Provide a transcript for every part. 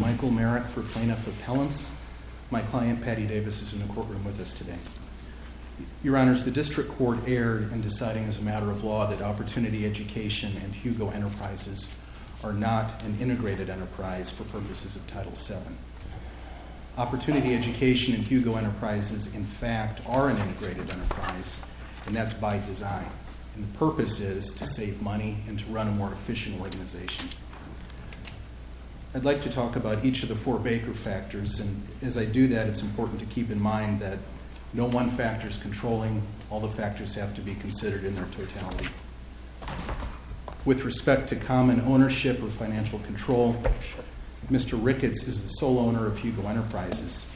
Michael Merritt for Plaintiff Appellants. My client, Patty Davis, is in the courtroom with us today. Your Honors, the District Court erred in deciding as a matter of law that Opportunity Education and Hugo Enterprises are not an integrated enterprise for purposes of Title VII. Opportunity Education and Hugo Enterprises, in fact, are an integrated enterprise, and that's by design. The purpose is to save money and to run a more efficient organization. I'd like to talk about each of the four Baker factors, and as I do that, it's important to keep in mind that no one factor is controlling. All the factors have to be considered in their totality. With respect to common ownership or financial control, Mr. Ricketts is the sole owner of Hugo Enterprises,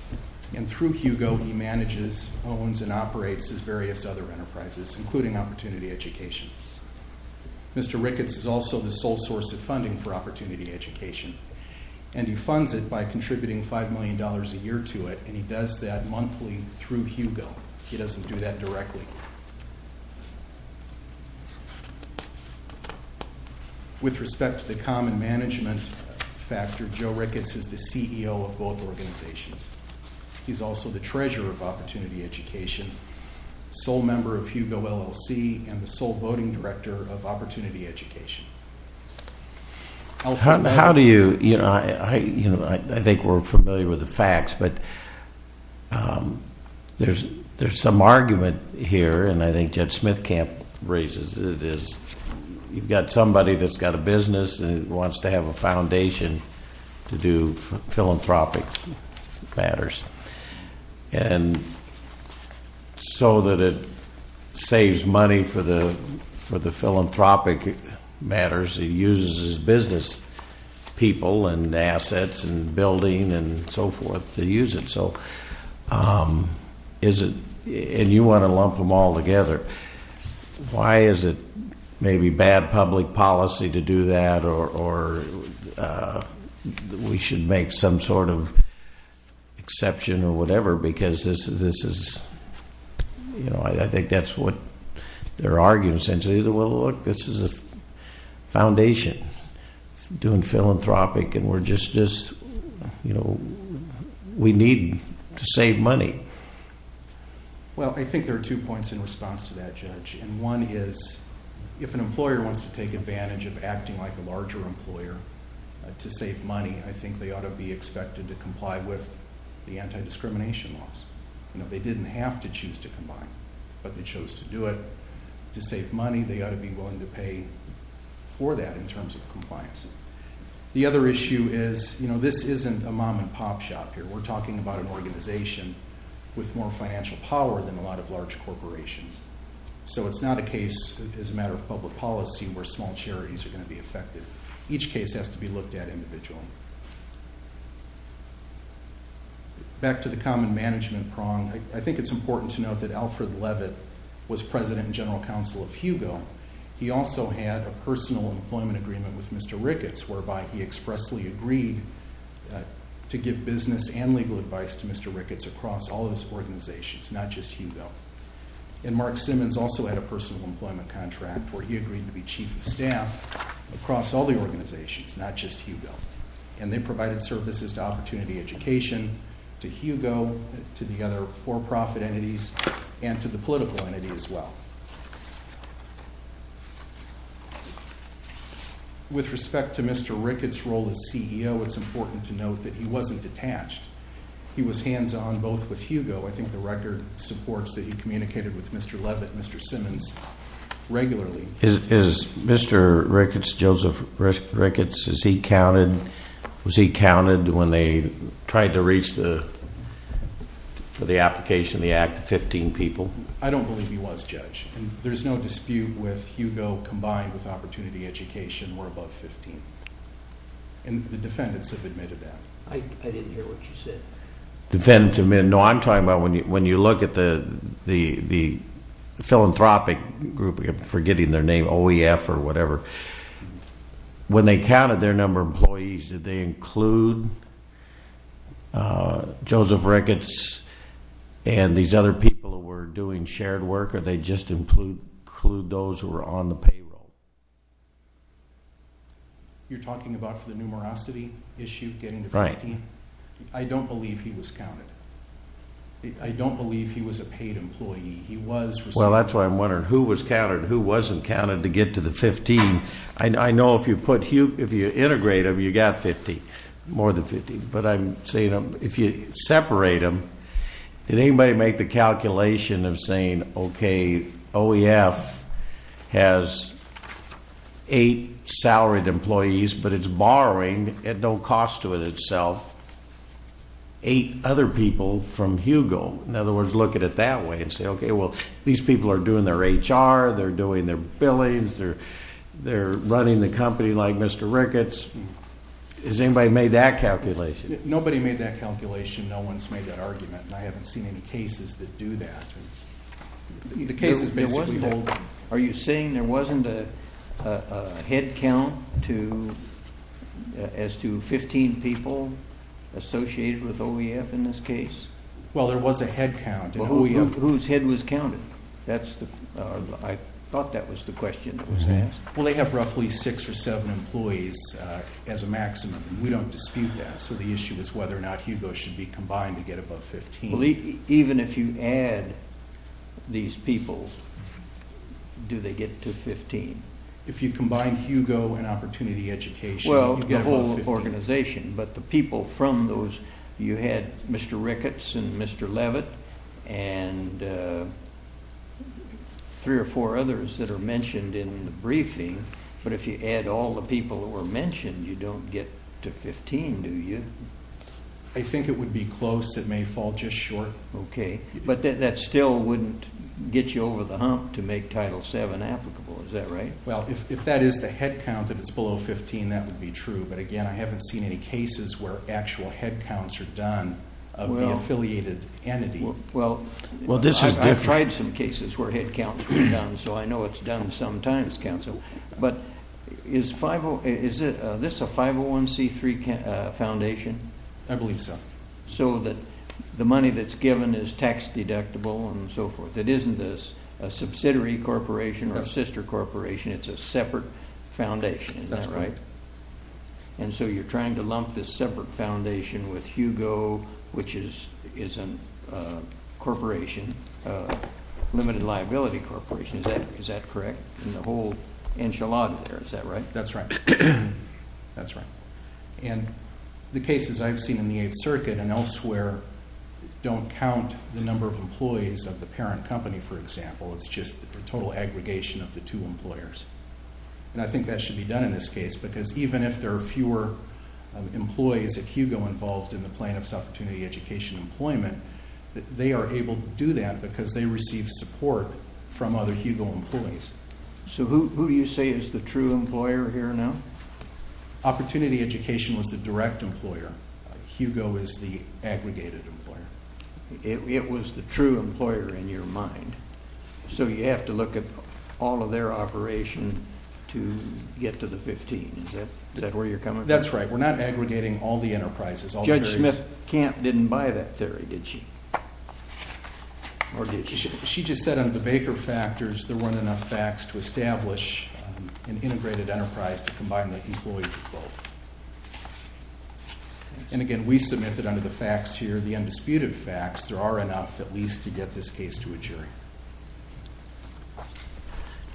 and through Hugo, he manages, owns, and operates his various other enterprises, including Opportunity Education. Mr. Ricketts is also the sole source of funding for Opportunity Education, and he funds it by contributing $5 million a year to it, and he does that monthly through Hugo. He doesn't do that directly. With respect to the common management factor, Joe Ricketts is the CEO of both organizations. He's also the treasurer of Opportunity Education, sole member of Hugo LLC, and the sole voting director of Opportunity Education. How do you, you know, I think we're familiar with the facts, but there's some argument here, and I think Judge Smithcamp raises it, is you've got somebody that's got a business and wants to have a foundation to do philanthropic matters, and so that it saves money for the philanthropic matters, he uses his business people and assets and building and so forth to use it, so is it, and you want to lump them all together. Why is it maybe bad public policy to do that, or we should make some sort of exception or whatever, because this is, you know, I think that's what they're arguing, essentially, that, well, look, this is a foundation doing philanthropic, and we're just, you know, we need to save money. Well, I think there are two points in response to that, Judge, and one is, if an employer wants to take advantage of acting like a larger employer to save money, I think they ought to be expected to comply with the anti-discrimination laws. You know, they didn't have to choose to comply, but they chose to do it to save money. They ought to be willing to pay for that in terms of compliance. The other issue is, you know, this isn't a mom-and-pop shop here. We're talking about an organization with more financial power than a lot of large corporations, so it's not a case, as a matter of public policy, where small charities are going to be affected. Each case has to be looked at individually. Back to the common management prong, I think it's important to note that Alfred Leavitt was President and General Counsel of Hugo. He also had a personal employment agreement with Mr. Ricketts, whereby he expressly agreed to give business and legal advice to Mr. Ricketts across all of his organizations, not just Hugo. And Mark Simmons also had a personal employment contract, where he agreed to be Chief of Staff across all the organizations, not just Hugo. And they provided services to Opportunity Education, to Hugo, to the other for-profit entities, and to the political entity as well. With respect to Mr. Ricketts' role as CEO, it's important to note that he wasn't detached. He was hands-on both with Hugo, I think the record supports that he communicated with Mr. Leavitt and Mr. Simmons regularly. Is Mr. Ricketts, Joseph Ricketts, was he counted when they tried to reach for the application of the Act to 15 people? I don't believe he was, Judge. There's no dispute with Hugo combined with Opportunity Education were above 15. And the defendants have admitted that. I didn't hear what you said. Defendants have admitted. No, I'm talking about when you look at the philanthropic group, I'm forgetting their name, OEF or whatever. When they counted their number of employees, did they include Joseph Ricketts and these other people who were doing shared work, or did they just include those who were on the payroll? You're talking about the numerosity issue, getting to 15? Right. I don't believe he was counted. I don't believe he was a paid employee. Well, that's why I'm wondering who was counted, who wasn't counted to get to the 15. I know if you integrate them, you've got 50, more than 50. But I'm saying if you separate them, did anybody make the calculation of saying, okay, OEF has eight salaried employees, but it's borrowing at no cost to itself, eight other people from Hugo. In other words, look at it that way and say, okay, well, these people are doing their HR, they're doing their billings, they're running the company like Mr. Ricketts. Has anybody made that calculation? Nobody made that calculation. No one's made that argument, and I haven't seen any cases that do that. The cases basically hold- Are you saying there wasn't a head count as to 15 people associated with OEF in this case? Well, there was a head count. Whose head was counted? I thought that was the question that was asked. Well, they have roughly six or seven employees as a maximum, and we don't dispute that. So the issue is whether or not Hugo should be combined to get above 15. Even if you add these people, do they get to 15? If you combine Hugo and Opportunity Education- Well, the whole organization, but the people from those, you had Mr. Ricketts and Mr. Levitt and three or four others that are mentioned in the briefing, but if you add all the people who were mentioned, you don't get to 15, do you? I think it would be close. It may fall just short. Okay, but that still wouldn't get you over the hump to make Title VII applicable, is that right? Well, if that is the head count, if it's below 15, that would be true, but again, I haven't seen any cases where actual head counts are done of the affiliated entity. Well, I've tried some cases where head counts were done, so I know it's done sometimes, but is this a 501c3 foundation? I believe so. So that the money that's given is tax deductible and so forth. It isn't a subsidiary corporation or sister corporation. It's a separate foundation, is that right? That's correct. And so you're trying to lump this separate foundation with Hugo, which is a corporation, a limited liability corporation, is that correct? And the whole enchilada there, is that right? That's right. That's right. And the cases I've seen in the Eighth Circuit and elsewhere don't count the number of employees of the parent company, for example. It's just the total aggregation of the two employers. And I think that should be done in this case because even if there are fewer employees at Hugo involved in the plaintiff's opportunity education employment, they are able to do that because they receive support from other Hugo employees. So who do you say is the true employer here now? Opportunity education was the direct employer. Hugo is the aggregated employer. It was the true employer in your mind. So you have to look at all of their operation to get to the 15. Is that where you're coming from? That's right. We're not aggregating all the enterprises. Judge Smith-Camp didn't buy that theory, did she? Or did she? She just said under the Baker factors, there weren't enough facts to establish an integrated enterprise to combine the employees of both. And again, we submit that under the facts here, the undisputed facts, there are enough at least to get this case to a jury.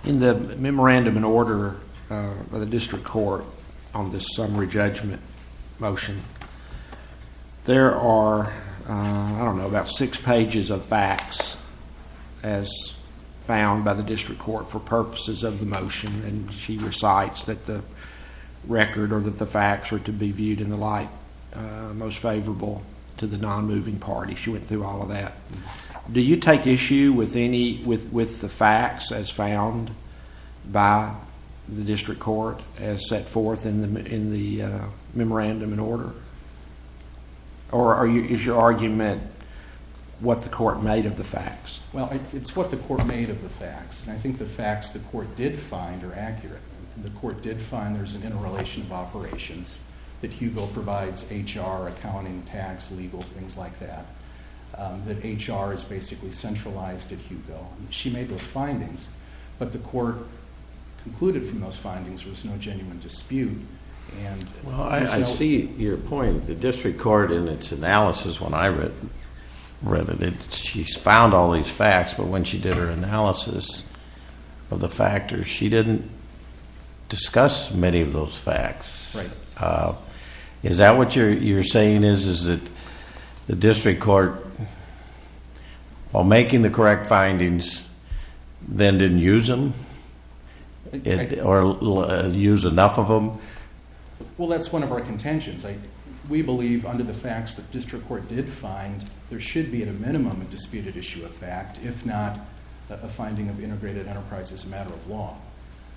In the memorandum in order of the district court on this summary judgment motion, there are, I don't know, about six pages of facts as found by the district court for purposes of the motion. And she recites that the record or that the facts are to be viewed in the light most favorable to the non-moving party. Do you take issue with the facts as found by the district court as set forth in the memorandum in order? Or is your argument what the court made of the facts? Well, it's what the court made of the facts. And I think the facts the court did find are accurate. The court did find there's an interrelation of operations that Hugo provides HR, accounting, tax, legal, things like that. That HR is basically centralized at Hugo. She made those findings. But the court concluded from those findings there was no genuine dispute. Well, I see your point. The district court in its analysis when I read it, she found all these facts, but when she did her analysis of the factors, she didn't discuss many of those facts. Is that what you're saying is, is that the district court, while making the correct findings, then didn't use them or use enough of them? Well, that's one of our contentions. We believe under the facts the district court did find there should be at a minimum a disputed issue of fact, if not a finding of integrated enterprise as a matter of law.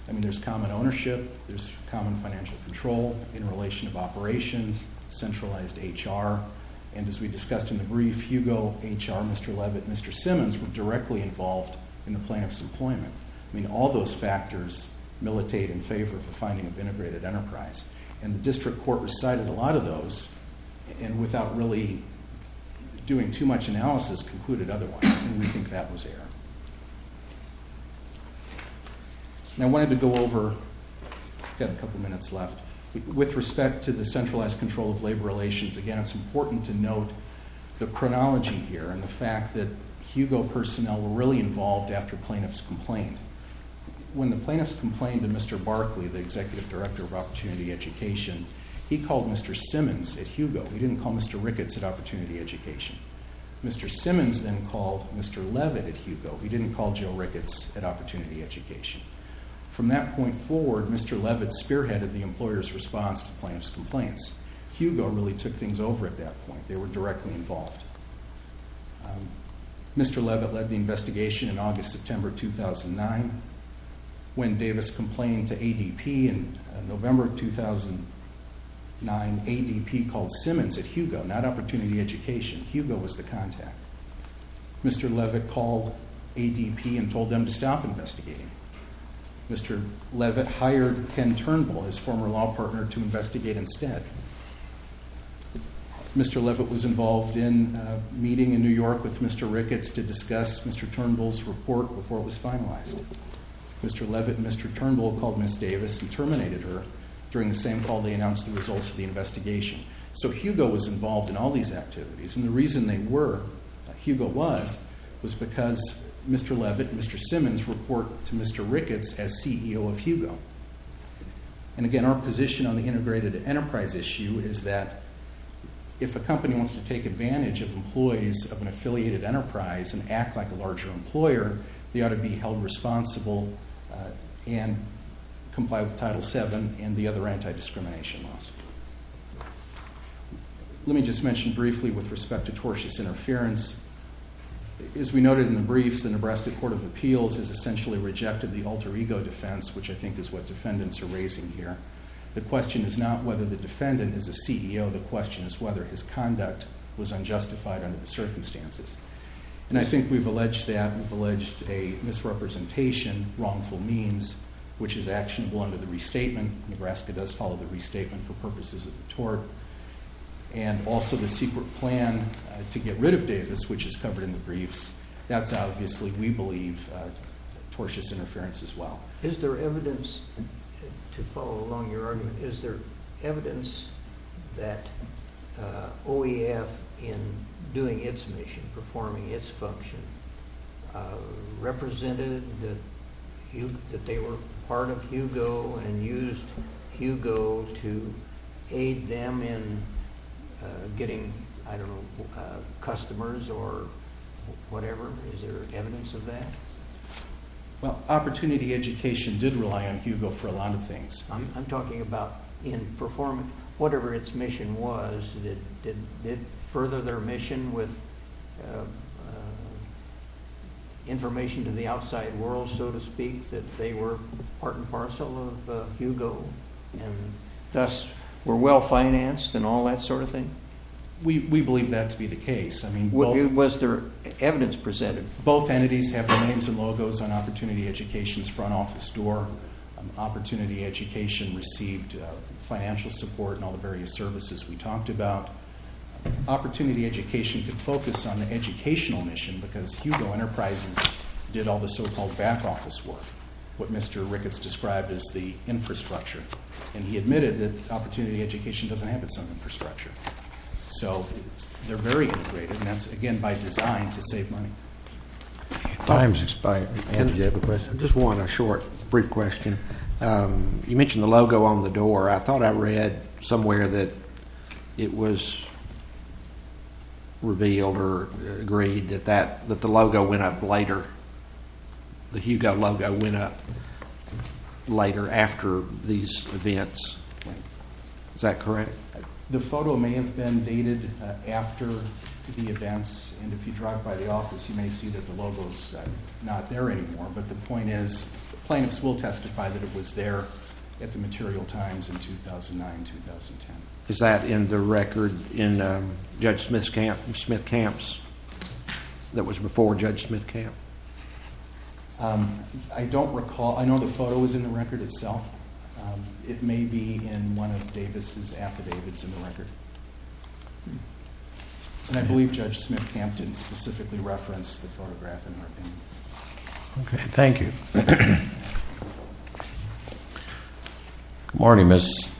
I mean, there's common ownership. There's common financial control in relation of operations, centralized HR. And as we discussed in the brief, Hugo, HR, Mr. Levitt, Mr. Simmons were directly involved in the plaintiff's employment. I mean, all those factors militate in favor of the finding of integrated enterprise. And the district court recited a lot of those and without really doing too much analysis concluded otherwise, and we think that was error. And I wanted to go over, we've got a couple of minutes left, with respect to the centralized control of labor relations, again, it's important to note the chronology here and the fact that Hugo personnel were really involved after plaintiffs complained. When the plaintiffs complained to Mr. Barkley, the executive director of opportunity education, he called Mr. Simmons at Hugo. He didn't call Mr. Ricketts at opportunity education. Mr. Simmons then called Mr. Levitt at Hugo. He didn't call Joe Ricketts at opportunity education. From that point forward, Mr. Levitt spearheaded the employer's response to plaintiff's complaints. Hugo really took things over at that point. They were directly involved. Mr. Levitt led the investigation in August, September 2009. When Davis complained to ADP in November 2009, ADP called Simmons at Hugo, not opportunity education. Hugo was the contact. Mr. Levitt called ADP and told them to stop investigating. Mr. Levitt hired Ken Turnbull, his former law partner, to investigate instead. Mr. Levitt was involved in a meeting in New York with Mr. Ricketts to discuss Mr. Turnbull's report before it was finalized. Mr. Levitt and Mr. Turnbull called Ms. Davis and terminated her. During the same call, they announced the results of the investigation. Hugo was involved in all these activities. The reason they were, Hugo was, was because Mr. Levitt and Mr. Simmons report to Mr. Ricketts as CEO of Hugo. Our position on the integrated enterprise issue is that if a company wants to take advantage of employees of an affiliated enterprise and act like a larger employer, they ought to be held responsible and comply with Title VII and the other anti-discrimination laws. Let me just mention briefly with respect to tortious interference. As we noted in the briefs, the Nebraska Court of Appeals has essentially rejected the alter ego defense, which I think is what defendants are raising here. The question is not whether the defendant is a CEO. The question is whether his conduct was unjustified under the circumstances. And I think we've alleged that. We've alleged a misrepresentation, wrongful means, which is actionable under the restatement. Nebraska does follow the restatement for purposes of the tort. And also the secret plan to get rid of Davis, which is covered in the briefs. That's obviously, we believe, tortious interference as well. Is there evidence, to follow along your argument, is there evidence that OEF, in doing its mission, performing its function, represented that they were part of Hugo and used Hugo to aid them in getting, I don't know, customers or whatever? Is there evidence of that? Well, opportunity education did rely on Hugo for a lot of things. I'm talking about in performance, whatever its mission was, did it further their mission with information to the outside world, so to speak, that they were part and parcel of Hugo and thus were well financed and all that sort of thing? We believe that to be the case. Was there evidence presented? Both entities have their names and logos on opportunity education's front office door. Opportunity education received financial support and all the various services we talked about. Opportunity education could focus on the educational mission because Hugo Enterprises did all the so-called back office work, what Mr. Ricketts described as the infrastructure. And he admitted that opportunity education doesn't have its own infrastructure. So they're very integrated, and that's, again, by design to save money. Time's expired. Do you have a question? I just want a short, brief question. You mentioned the logo on the door. I thought I read somewhere that it was revealed or agreed that the logo went up later, the Hugo logo went up later after these events. Is that correct? The photo may have been dated after the events, and if you drive by the office, you may see that the logo's not there anymore. But the point is the plaintiffs will testify that it was there at the material times in 2009-2010. Is that in the record in Judge Smith Camp's, that was before Judge Smith Camp? I don't recall. I know the photo was in the record itself. It may be in one of Davis' affidavits in the record. And I believe Judge Smith Camp didn't specifically reference the photograph in our opinion. Okay. Thank you. Good morning, Mr.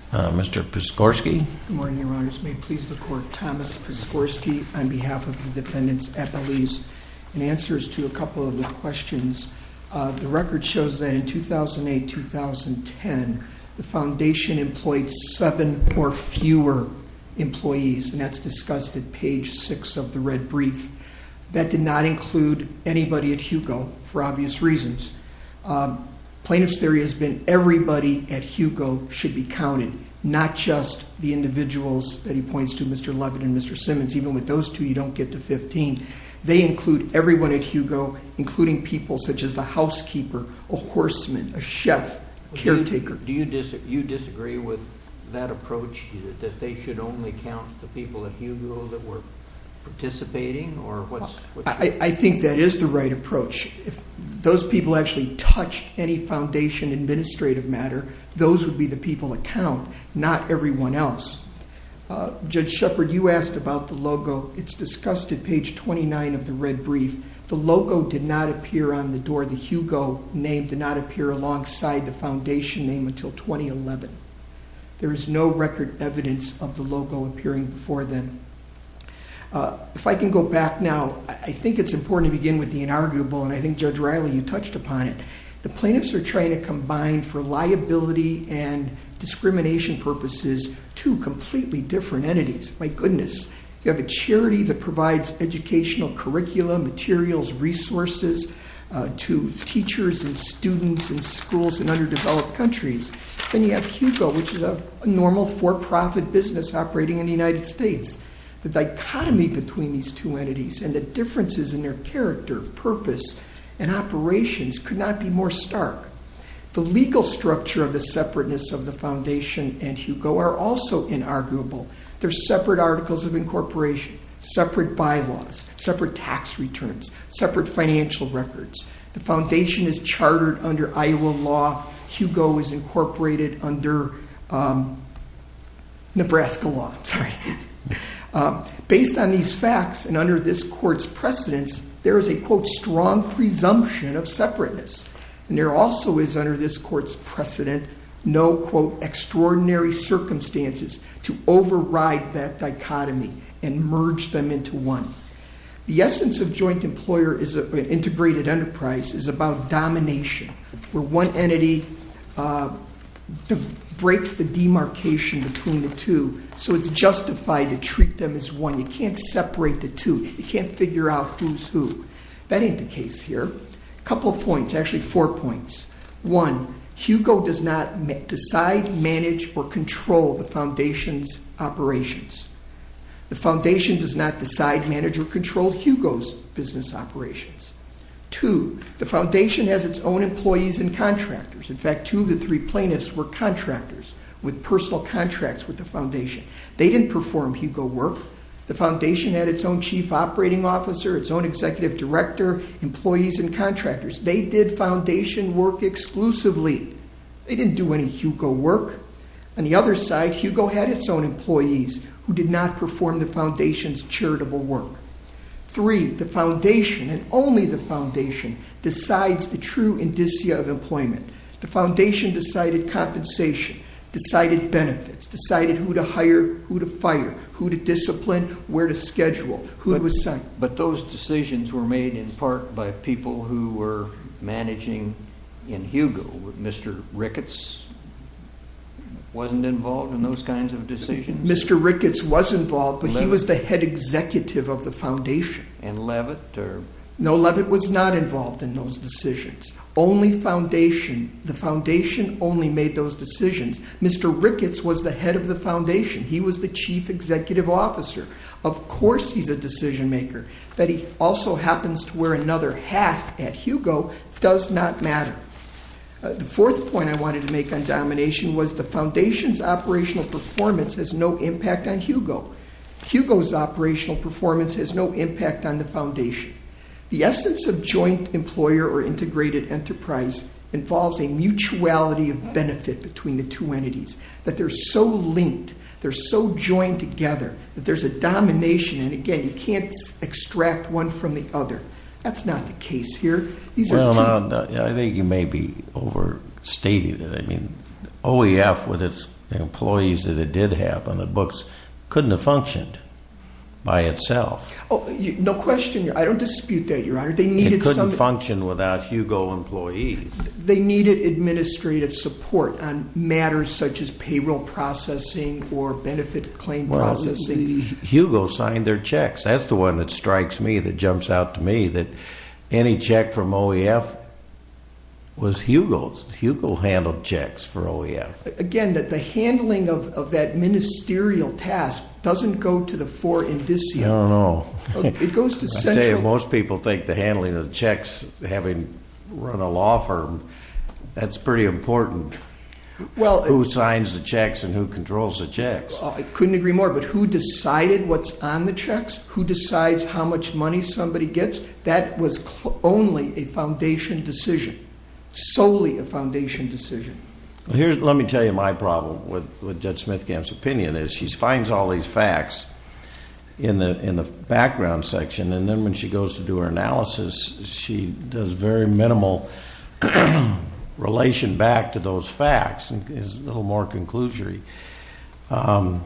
Piskorski. Good morning, Your Honors. May it please the Court, Thomas Piskorski on behalf of the defendants at Belize. In answer to a couple of the questions, the record shows that in 2008-2010, the Foundation employed seven or fewer employees, and that's discussed at page six of the red brief. That did not include anybody at Hugo for obvious reasons. Plaintiff's theory has been everybody at Hugo should be counted, not just the individuals that he points to, Mr. Levin and Mr. Simmons. Even with those two, you don't get to 15. They include everyone at Hugo, including people such as the housekeeper, a horseman, a chef, a caretaker. Do you disagree with that approach that they should only count the people at Hugo that were participating? I think that is the right approach. If those people actually touched any Foundation administrative matter, those would be the people that count, not everyone else. Judge Shepard, you asked about the logo. It's discussed at page 29 of the red brief. The logo did not appear on the door. The Hugo name did not appear alongside the Foundation name until 2011. There is no record evidence of the logo appearing before then. If I can go back now, I think it's important to begin with the inarguable, and I think Judge Riley, you touched upon it. The plaintiffs are trying to combine for liability and discrimination purposes two completely different entities. My goodness. You have a charity that provides educational curriculum, materials, resources to teachers and students in schools in underdeveloped countries. Then you have Hugo, which is a normal for-profit business operating in the United States. The dichotomy between these two entities and the differences in their character, purpose, and operations could not be more stark. The legal structure of the separateness of the Foundation and Hugo are also inarguable. They're separate articles of incorporation, separate bylaws, separate tax returns, separate financial records. The Foundation is chartered under Iowa law. Hugo is incorporated under Nebraska law. Based on these facts and under this court's precedence, there is a, quote, strong presumption of separateness. And there also is, under this court's precedent, no, quote, extraordinary circumstances to override that dichotomy and merge them into one. The essence of joint employer integrated enterprise is about domination, where one entity breaks the demarcation between the two, so it's justified to treat them as one. You can't separate the two. You can't figure out who's who. That ain't the case here. A couple points, actually four points. One, Hugo does not decide, manage, or control the Foundation's operations. The Foundation does not decide, manage, or control Hugo's business operations. Two, the Foundation has its own employees and contractors. In fact, two of the three plaintiffs were contractors with personal contracts with the Foundation. They didn't perform Hugo work. The Foundation had its own chief operating officer, its own executive director, employees, and contractors. They did Foundation work exclusively. They didn't do any Hugo work. On the other side, Hugo had its own employees who did not perform the Foundation's charitable work. Three, the Foundation, and only the Foundation, decides the true indicia of employment. The Foundation decided compensation, decided benefits, decided who to hire, who to fire, who to discipline, where to schedule, who was sent. But those decisions were made in part by people who were managing in Hugo. Mr. Ricketts wasn't involved in those kinds of decisions? Mr. Ricketts was involved, but he was the head executive of the Foundation. And Levitt? No, Levitt was not involved in those decisions. Only Foundation. The Foundation only made those decisions. Mr. Ricketts was the head of the Foundation. He was the chief executive officer. Of course he's a decision maker. That he also happens to wear another hat at Hugo does not matter. The fourth point I wanted to make on domination was the Foundation's operational performance has no impact on Hugo. Hugo's operational performance has no impact on the Foundation. The essence of joint employer or integrated enterprise involves a mutuality of benefit between the two entities. That they're so linked, they're so joined together, that there's a domination. And again, you can't extract one from the other. That's not the case here. Well, I think you may be overstating it. I mean, OEF with its employees that it did have on the books couldn't have functioned by itself. No question. I don't dispute that, Your Honor. It couldn't function without Hugo employees. They needed administrative support on matters such as payroll processing or benefit claim processing. Hugo signed their checks. That's the one that strikes me, that jumps out to me, that any check from OEF was Hugo's. Hugo handled checks for OEF. Again, the handling of that ministerial task doesn't go to the four indicia. I don't know. I tell you, most people think the handling of the checks, having run a law firm, that's pretty important. Who signs the checks and who controls the checks? I couldn't agree more. But who decided what's on the checks? Who decides how much money somebody gets? That was only a Foundation decision. Solely a Foundation decision. Let me tell you my problem with Judge Smithgam's opinion is she finds all these facts in the background section, and then when she goes to do her analysis, she does very minimal relation back to those facts. It's a little more conclusory. Mr.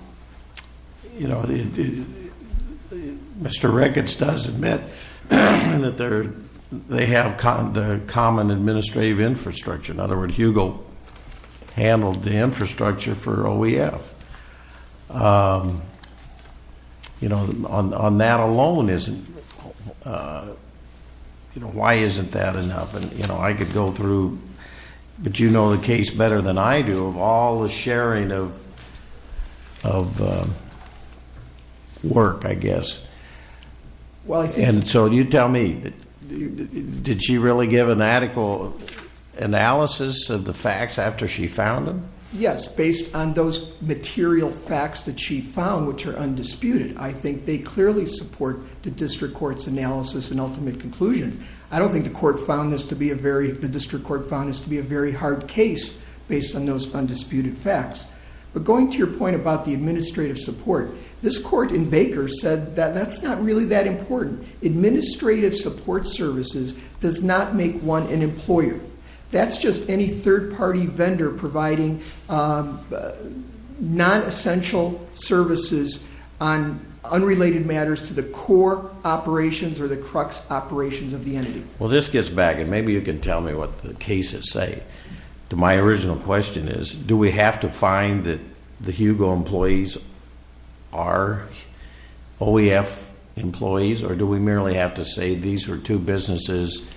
Ricketts does admit that they have the common administrative infrastructure. In other words, Hugo handled the infrastructure for OEF. On that alone, why isn't that enough? I could go through, but you know the case better than I do, of all the sharing of work, I guess. So you tell me, did she really give an adequate analysis of the facts after she found them? Yes, based on those material facts that she found, which are undisputed, I think they clearly support the District Court's analysis and ultimate conclusions. I don't think the District Court found this to be a very hard case based on those undisputed facts. But going to your point about the administrative support, this court in Baker said that that's not really that important. Administrative support services does not make one an employer. That's just any third-party vendor providing non-essential services on unrelated matters to the core operations or the crux operations of the entity. Well, this gets back, and maybe you can tell me what the cases say. My original question is, do we have to find that the Hugo employees are OEF employees, or do we merely have to say these are two businesses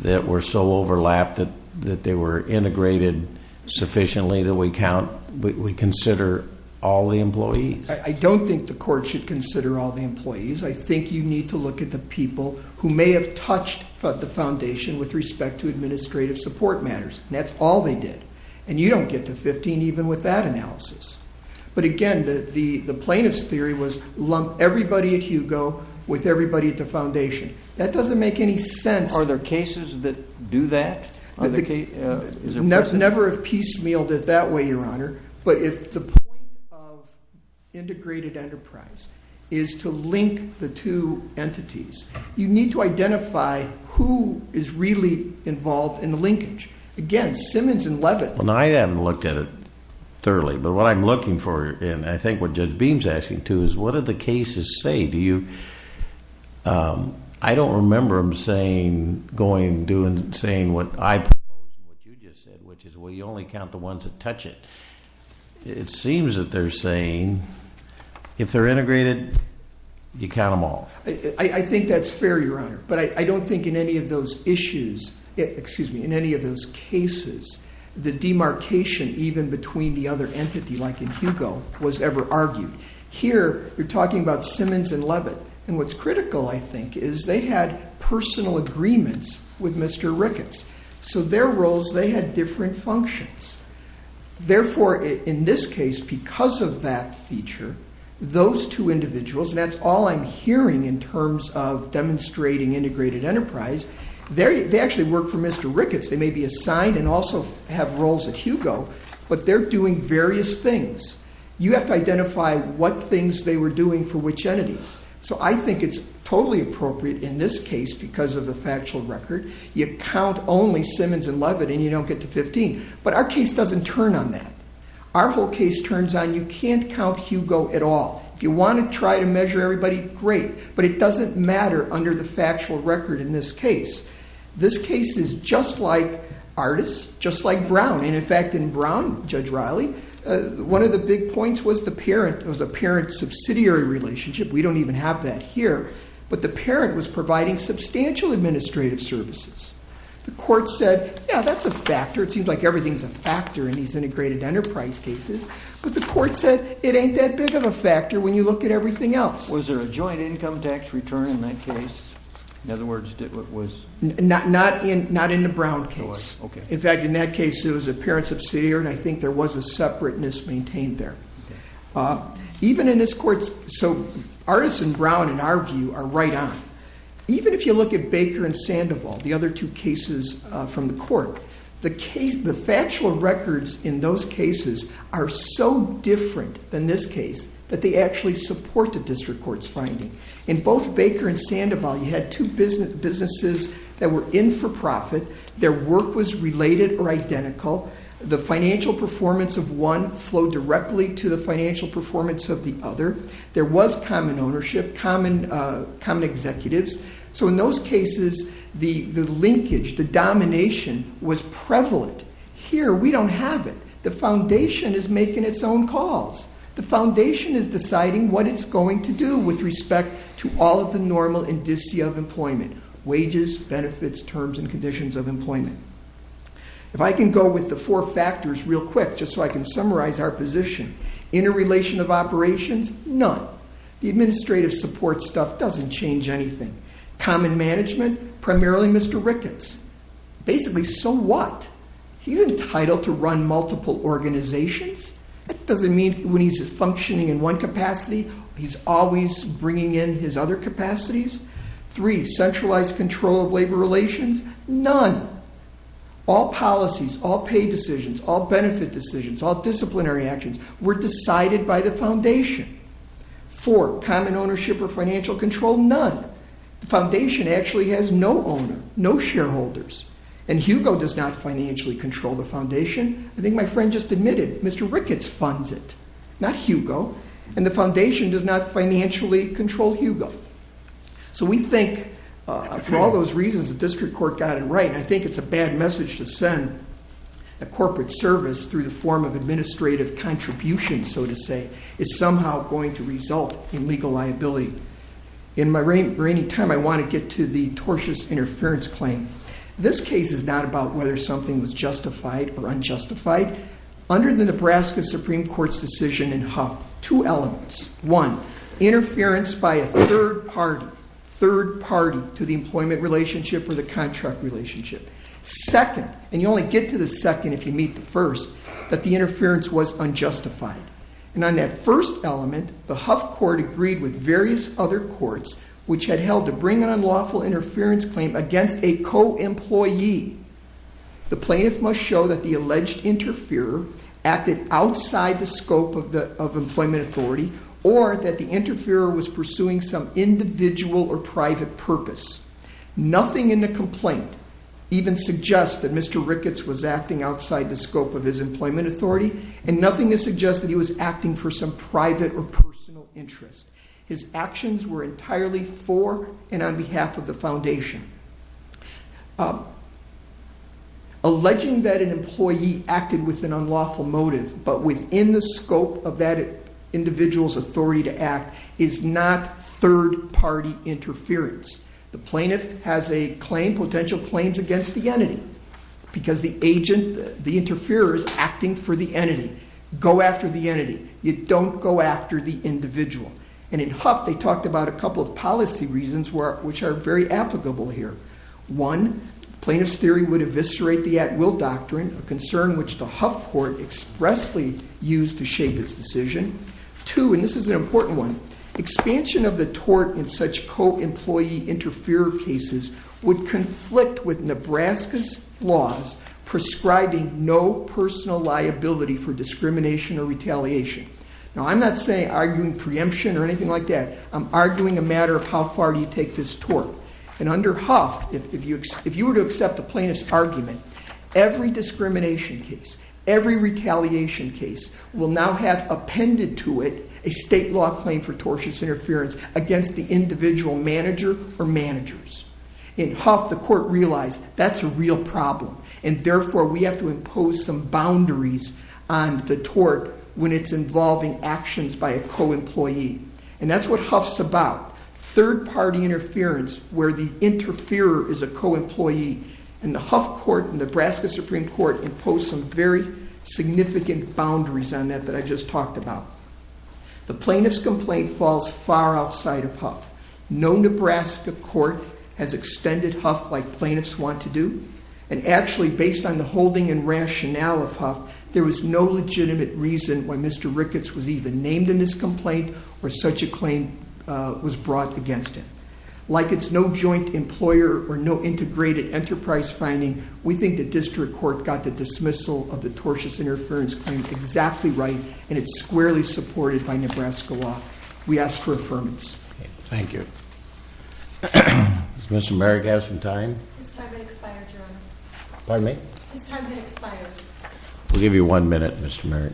that were so overlapped that they were integrated sufficiently that we consider all the employees? I don't think the court should consider all the employees. I think you need to look at the people who may have touched the foundation with respect to administrative support matters, and that's all they did. And you don't get to 15 even with that analysis. But again, the plaintiff's theory was lump everybody at Hugo with everybody at the foundation. That doesn't make any sense. Are there cases that do that? Never have piecemealed it that way, Your Honor. But if the point of integrated enterprise is to link the two entities, you need to identify who is really involved in the linkage. Again, Simmons and Leavitt. Well, no, I haven't looked at it thoroughly, but what I'm looking for, and I think what Judge Beam's asking too, is what do the cases say? I don't remember them saying what you just said, which is, well, you only count the ones that touch it. It seems that they're saying if they're integrated, you count them all. I think that's fair, Your Honor. But I don't think in any of those issues, excuse me, in any of those cases, the demarcation even between the other entity like in Hugo was ever argued. Here you're talking about Simmons and Leavitt, and what's critical, I think, is they had personal agreements with Mr. Ricketts. So their roles, they had different functions. Therefore, in this case, because of that feature, those two individuals, and that's all I'm hearing in terms of demonstrating integrated enterprise, they actually work for Mr. Ricketts. They may be assigned and also have roles at Hugo, but they're doing various things. You have to identify what things they were doing for which entities. So I think it's totally appropriate in this case because of the factual record. You count only Simmons and Leavitt, and you don't get to 15. But our case doesn't turn on that. Our whole case turns on you can't count Hugo at all. If you want to try to measure everybody, great, but it doesn't matter under the factual record in this case. This case is just like Artis, just like Brown. In fact, in Brown, Judge Riley, one of the big points was the parent. It was a parent-subsidiary relationship. We don't even have that here. But the parent was providing substantial administrative services. The court said, yeah, that's a factor. It seems like everything is a factor in these integrated enterprise cases. But the court said it ain't that big of a factor when you look at everything else. Was there a joint income tax return in that case? In other words, it was? Not in the Brown case. In fact, in that case, it was a parent-subsidiary, and I think there was a separateness maintained there. Even in this court, so Artis and Brown, in our view, are right on. Even if you look at Baker and Sandoval, the other two cases from the court, the factual records in those cases are so different than this case that they actually support the district court's finding. In both Baker and Sandoval, you had two businesses that were in for profit. Their work was related or identical. The financial performance of one flowed directly to the financial performance of the other. There was common ownership, common executives. So in those cases, the linkage, the domination was prevalent. Here, we don't have it. The foundation is making its own calls. The foundation is deciding what it's going to do with respect to all of the normal indicia of employment, wages, benefits, terms, and conditions of employment. If I can go with the four factors real quick, just so I can summarize our position, interrelation of operations, none. The administrative support stuff doesn't change anything. Common management, primarily Mr. Ricketts. Basically, so what? He's entitled to run multiple organizations. That doesn't mean when he's functioning in one capacity, he's always bringing in his other capacities. Three, centralized control of labor relations, none. All policies, all pay decisions, all benefit decisions, all disciplinary actions were decided by the foundation. Four, common ownership or financial control, none. The foundation actually has no owner, no shareholders, and Hugo does not financially control the foundation. I think my friend just admitted Mr. Ricketts funds it, not Hugo, and the foundation does not financially control Hugo. So we think for all those reasons, the district court got it right, and I think it's a bad message to send a corporate service through the form of administrative contribution, so to say. It's somehow going to result in legal liability. In my reigning time, I want to get to the tortious interference claim. This case is not about whether something was justified or unjustified. Under the Nebraska Supreme Court's decision in Huff, two elements. One, interference by a third party, third party to the employment relationship or the contract relationship. Second, and you only get to the second if you meet the first, that the interference was unjustified. And on that first element, the Huff court agreed with various other courts which had held to bring an unlawful interference claim against a co-employee. The plaintiff must show that the alleged interferer acted outside the scope of employment authority or that the interferer was pursuing some individual or private purpose. Nothing in the complaint even suggests that Mr. Ricketts was acting outside the scope of his employment authority, and nothing to suggest that he was acting for some private or personal interest. His actions were entirely for and on behalf of the foundation. Alleging that an employee acted with an unlawful motive but within the scope of that individual's authority to act is not third party interference. The plaintiff has a claim, potential claims against the entity because the agent, the interferer, is acting for the entity. Go after the entity. You don't go after the individual. And in Huff, they talked about a couple of policy reasons which are very applicable here. One, plaintiff's theory would eviscerate the at-will doctrine, a concern which the Huff court expressly used to shape its decision. Two, and this is an important one, expansion of the tort in such co-employee interferer cases would conflict with Nebraska's laws prescribing no personal liability for discrimination or retaliation. Now, I'm not arguing preemption or anything like that. I'm arguing a matter of how far do you take this tort. And under Huff, if you were to accept the plaintiff's argument, every discrimination case, every retaliation case, will now have appended to it a state law claim for tortious interference against the individual manager or managers. In Huff, the court realized that's a real problem, and therefore we have to impose some boundaries on the tort when it's involving actions by a co-employee. And that's what Huff's about, third-party interference where the interferer is a co-employee. And the Huff court and Nebraska Supreme Court impose some very significant boundaries on that that I just talked about. The plaintiff's complaint falls far outside of Huff. No Nebraska court has extended Huff like plaintiffs want to do. And actually, based on the holding and rationale of Huff, there was no legitimate reason why Mr. Ricketts was even named in this complaint or such a claim was brought against him. Like it's no joint employer or no integrated enterprise finding, we think the district court got the dismissal of the tortious interference claim exactly right, and it's squarely supported by Nebraska law. We ask for affirmance. Thank you. Does Mr. Merrick have some time? His time has expired, Your Honor. Pardon me? His time has expired. We'll give you one minute, Mr. Merrick.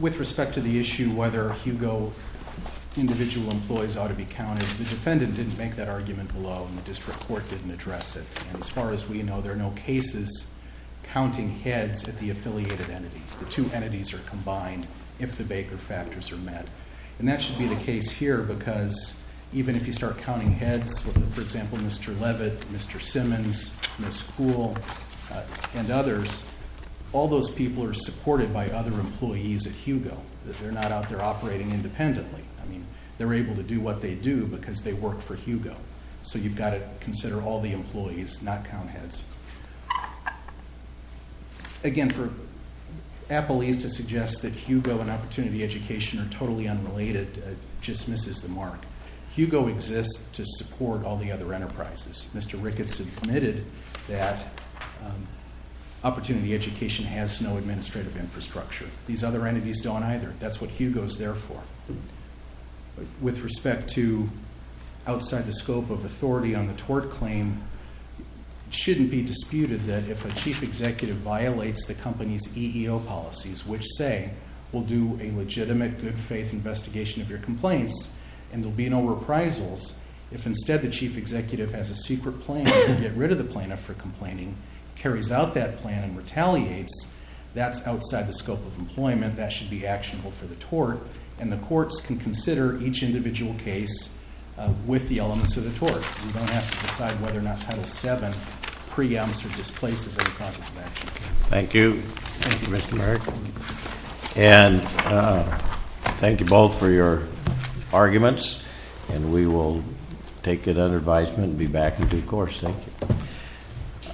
With respect to the issue whether HUGO individual employees ought to be counted, the defendant didn't make that argument below, and the district court didn't address it. As far as we know, there are no cases counting heads at the affiliated entity. The two entities are combined if the Baker factors are met. And that should be the case here because even if you start counting heads, for example, Mr. Levitt, Mr. Simmons, Ms. Kuhl, and others, all those people are supported by other employees at HUGO. They're not out there operating independently. So you've got to consider all the employees, not count heads. Again, for Apple East to suggest that HUGO and opportunity education are totally unrelated just misses the mark. HUGO exists to support all the other enterprises. Mr. Ricketts admitted that opportunity education has no administrative infrastructure. These other entities don't either. That's what HUGO is there for. With respect to outside the scope of authority on the tort claim, it shouldn't be disputed that if a chief executive violates the company's EEO policies, which say we'll do a legitimate good faith investigation of your complaints and there'll be no reprisals, if instead the chief executive has a secret plan to get rid of the plaintiff for complaining, carries out that plan and retaliates, that's outside the scope of employment. That should be actionable for the tort. And the courts can consider each individual case with the elements of the tort. We don't have to decide whether or not Title VII preempts or displaces that process of action. Thank you. Thank you, Mr. Merrick. And thank you both for your arguments. And we will take that under advisement and be back in due course. Thank you.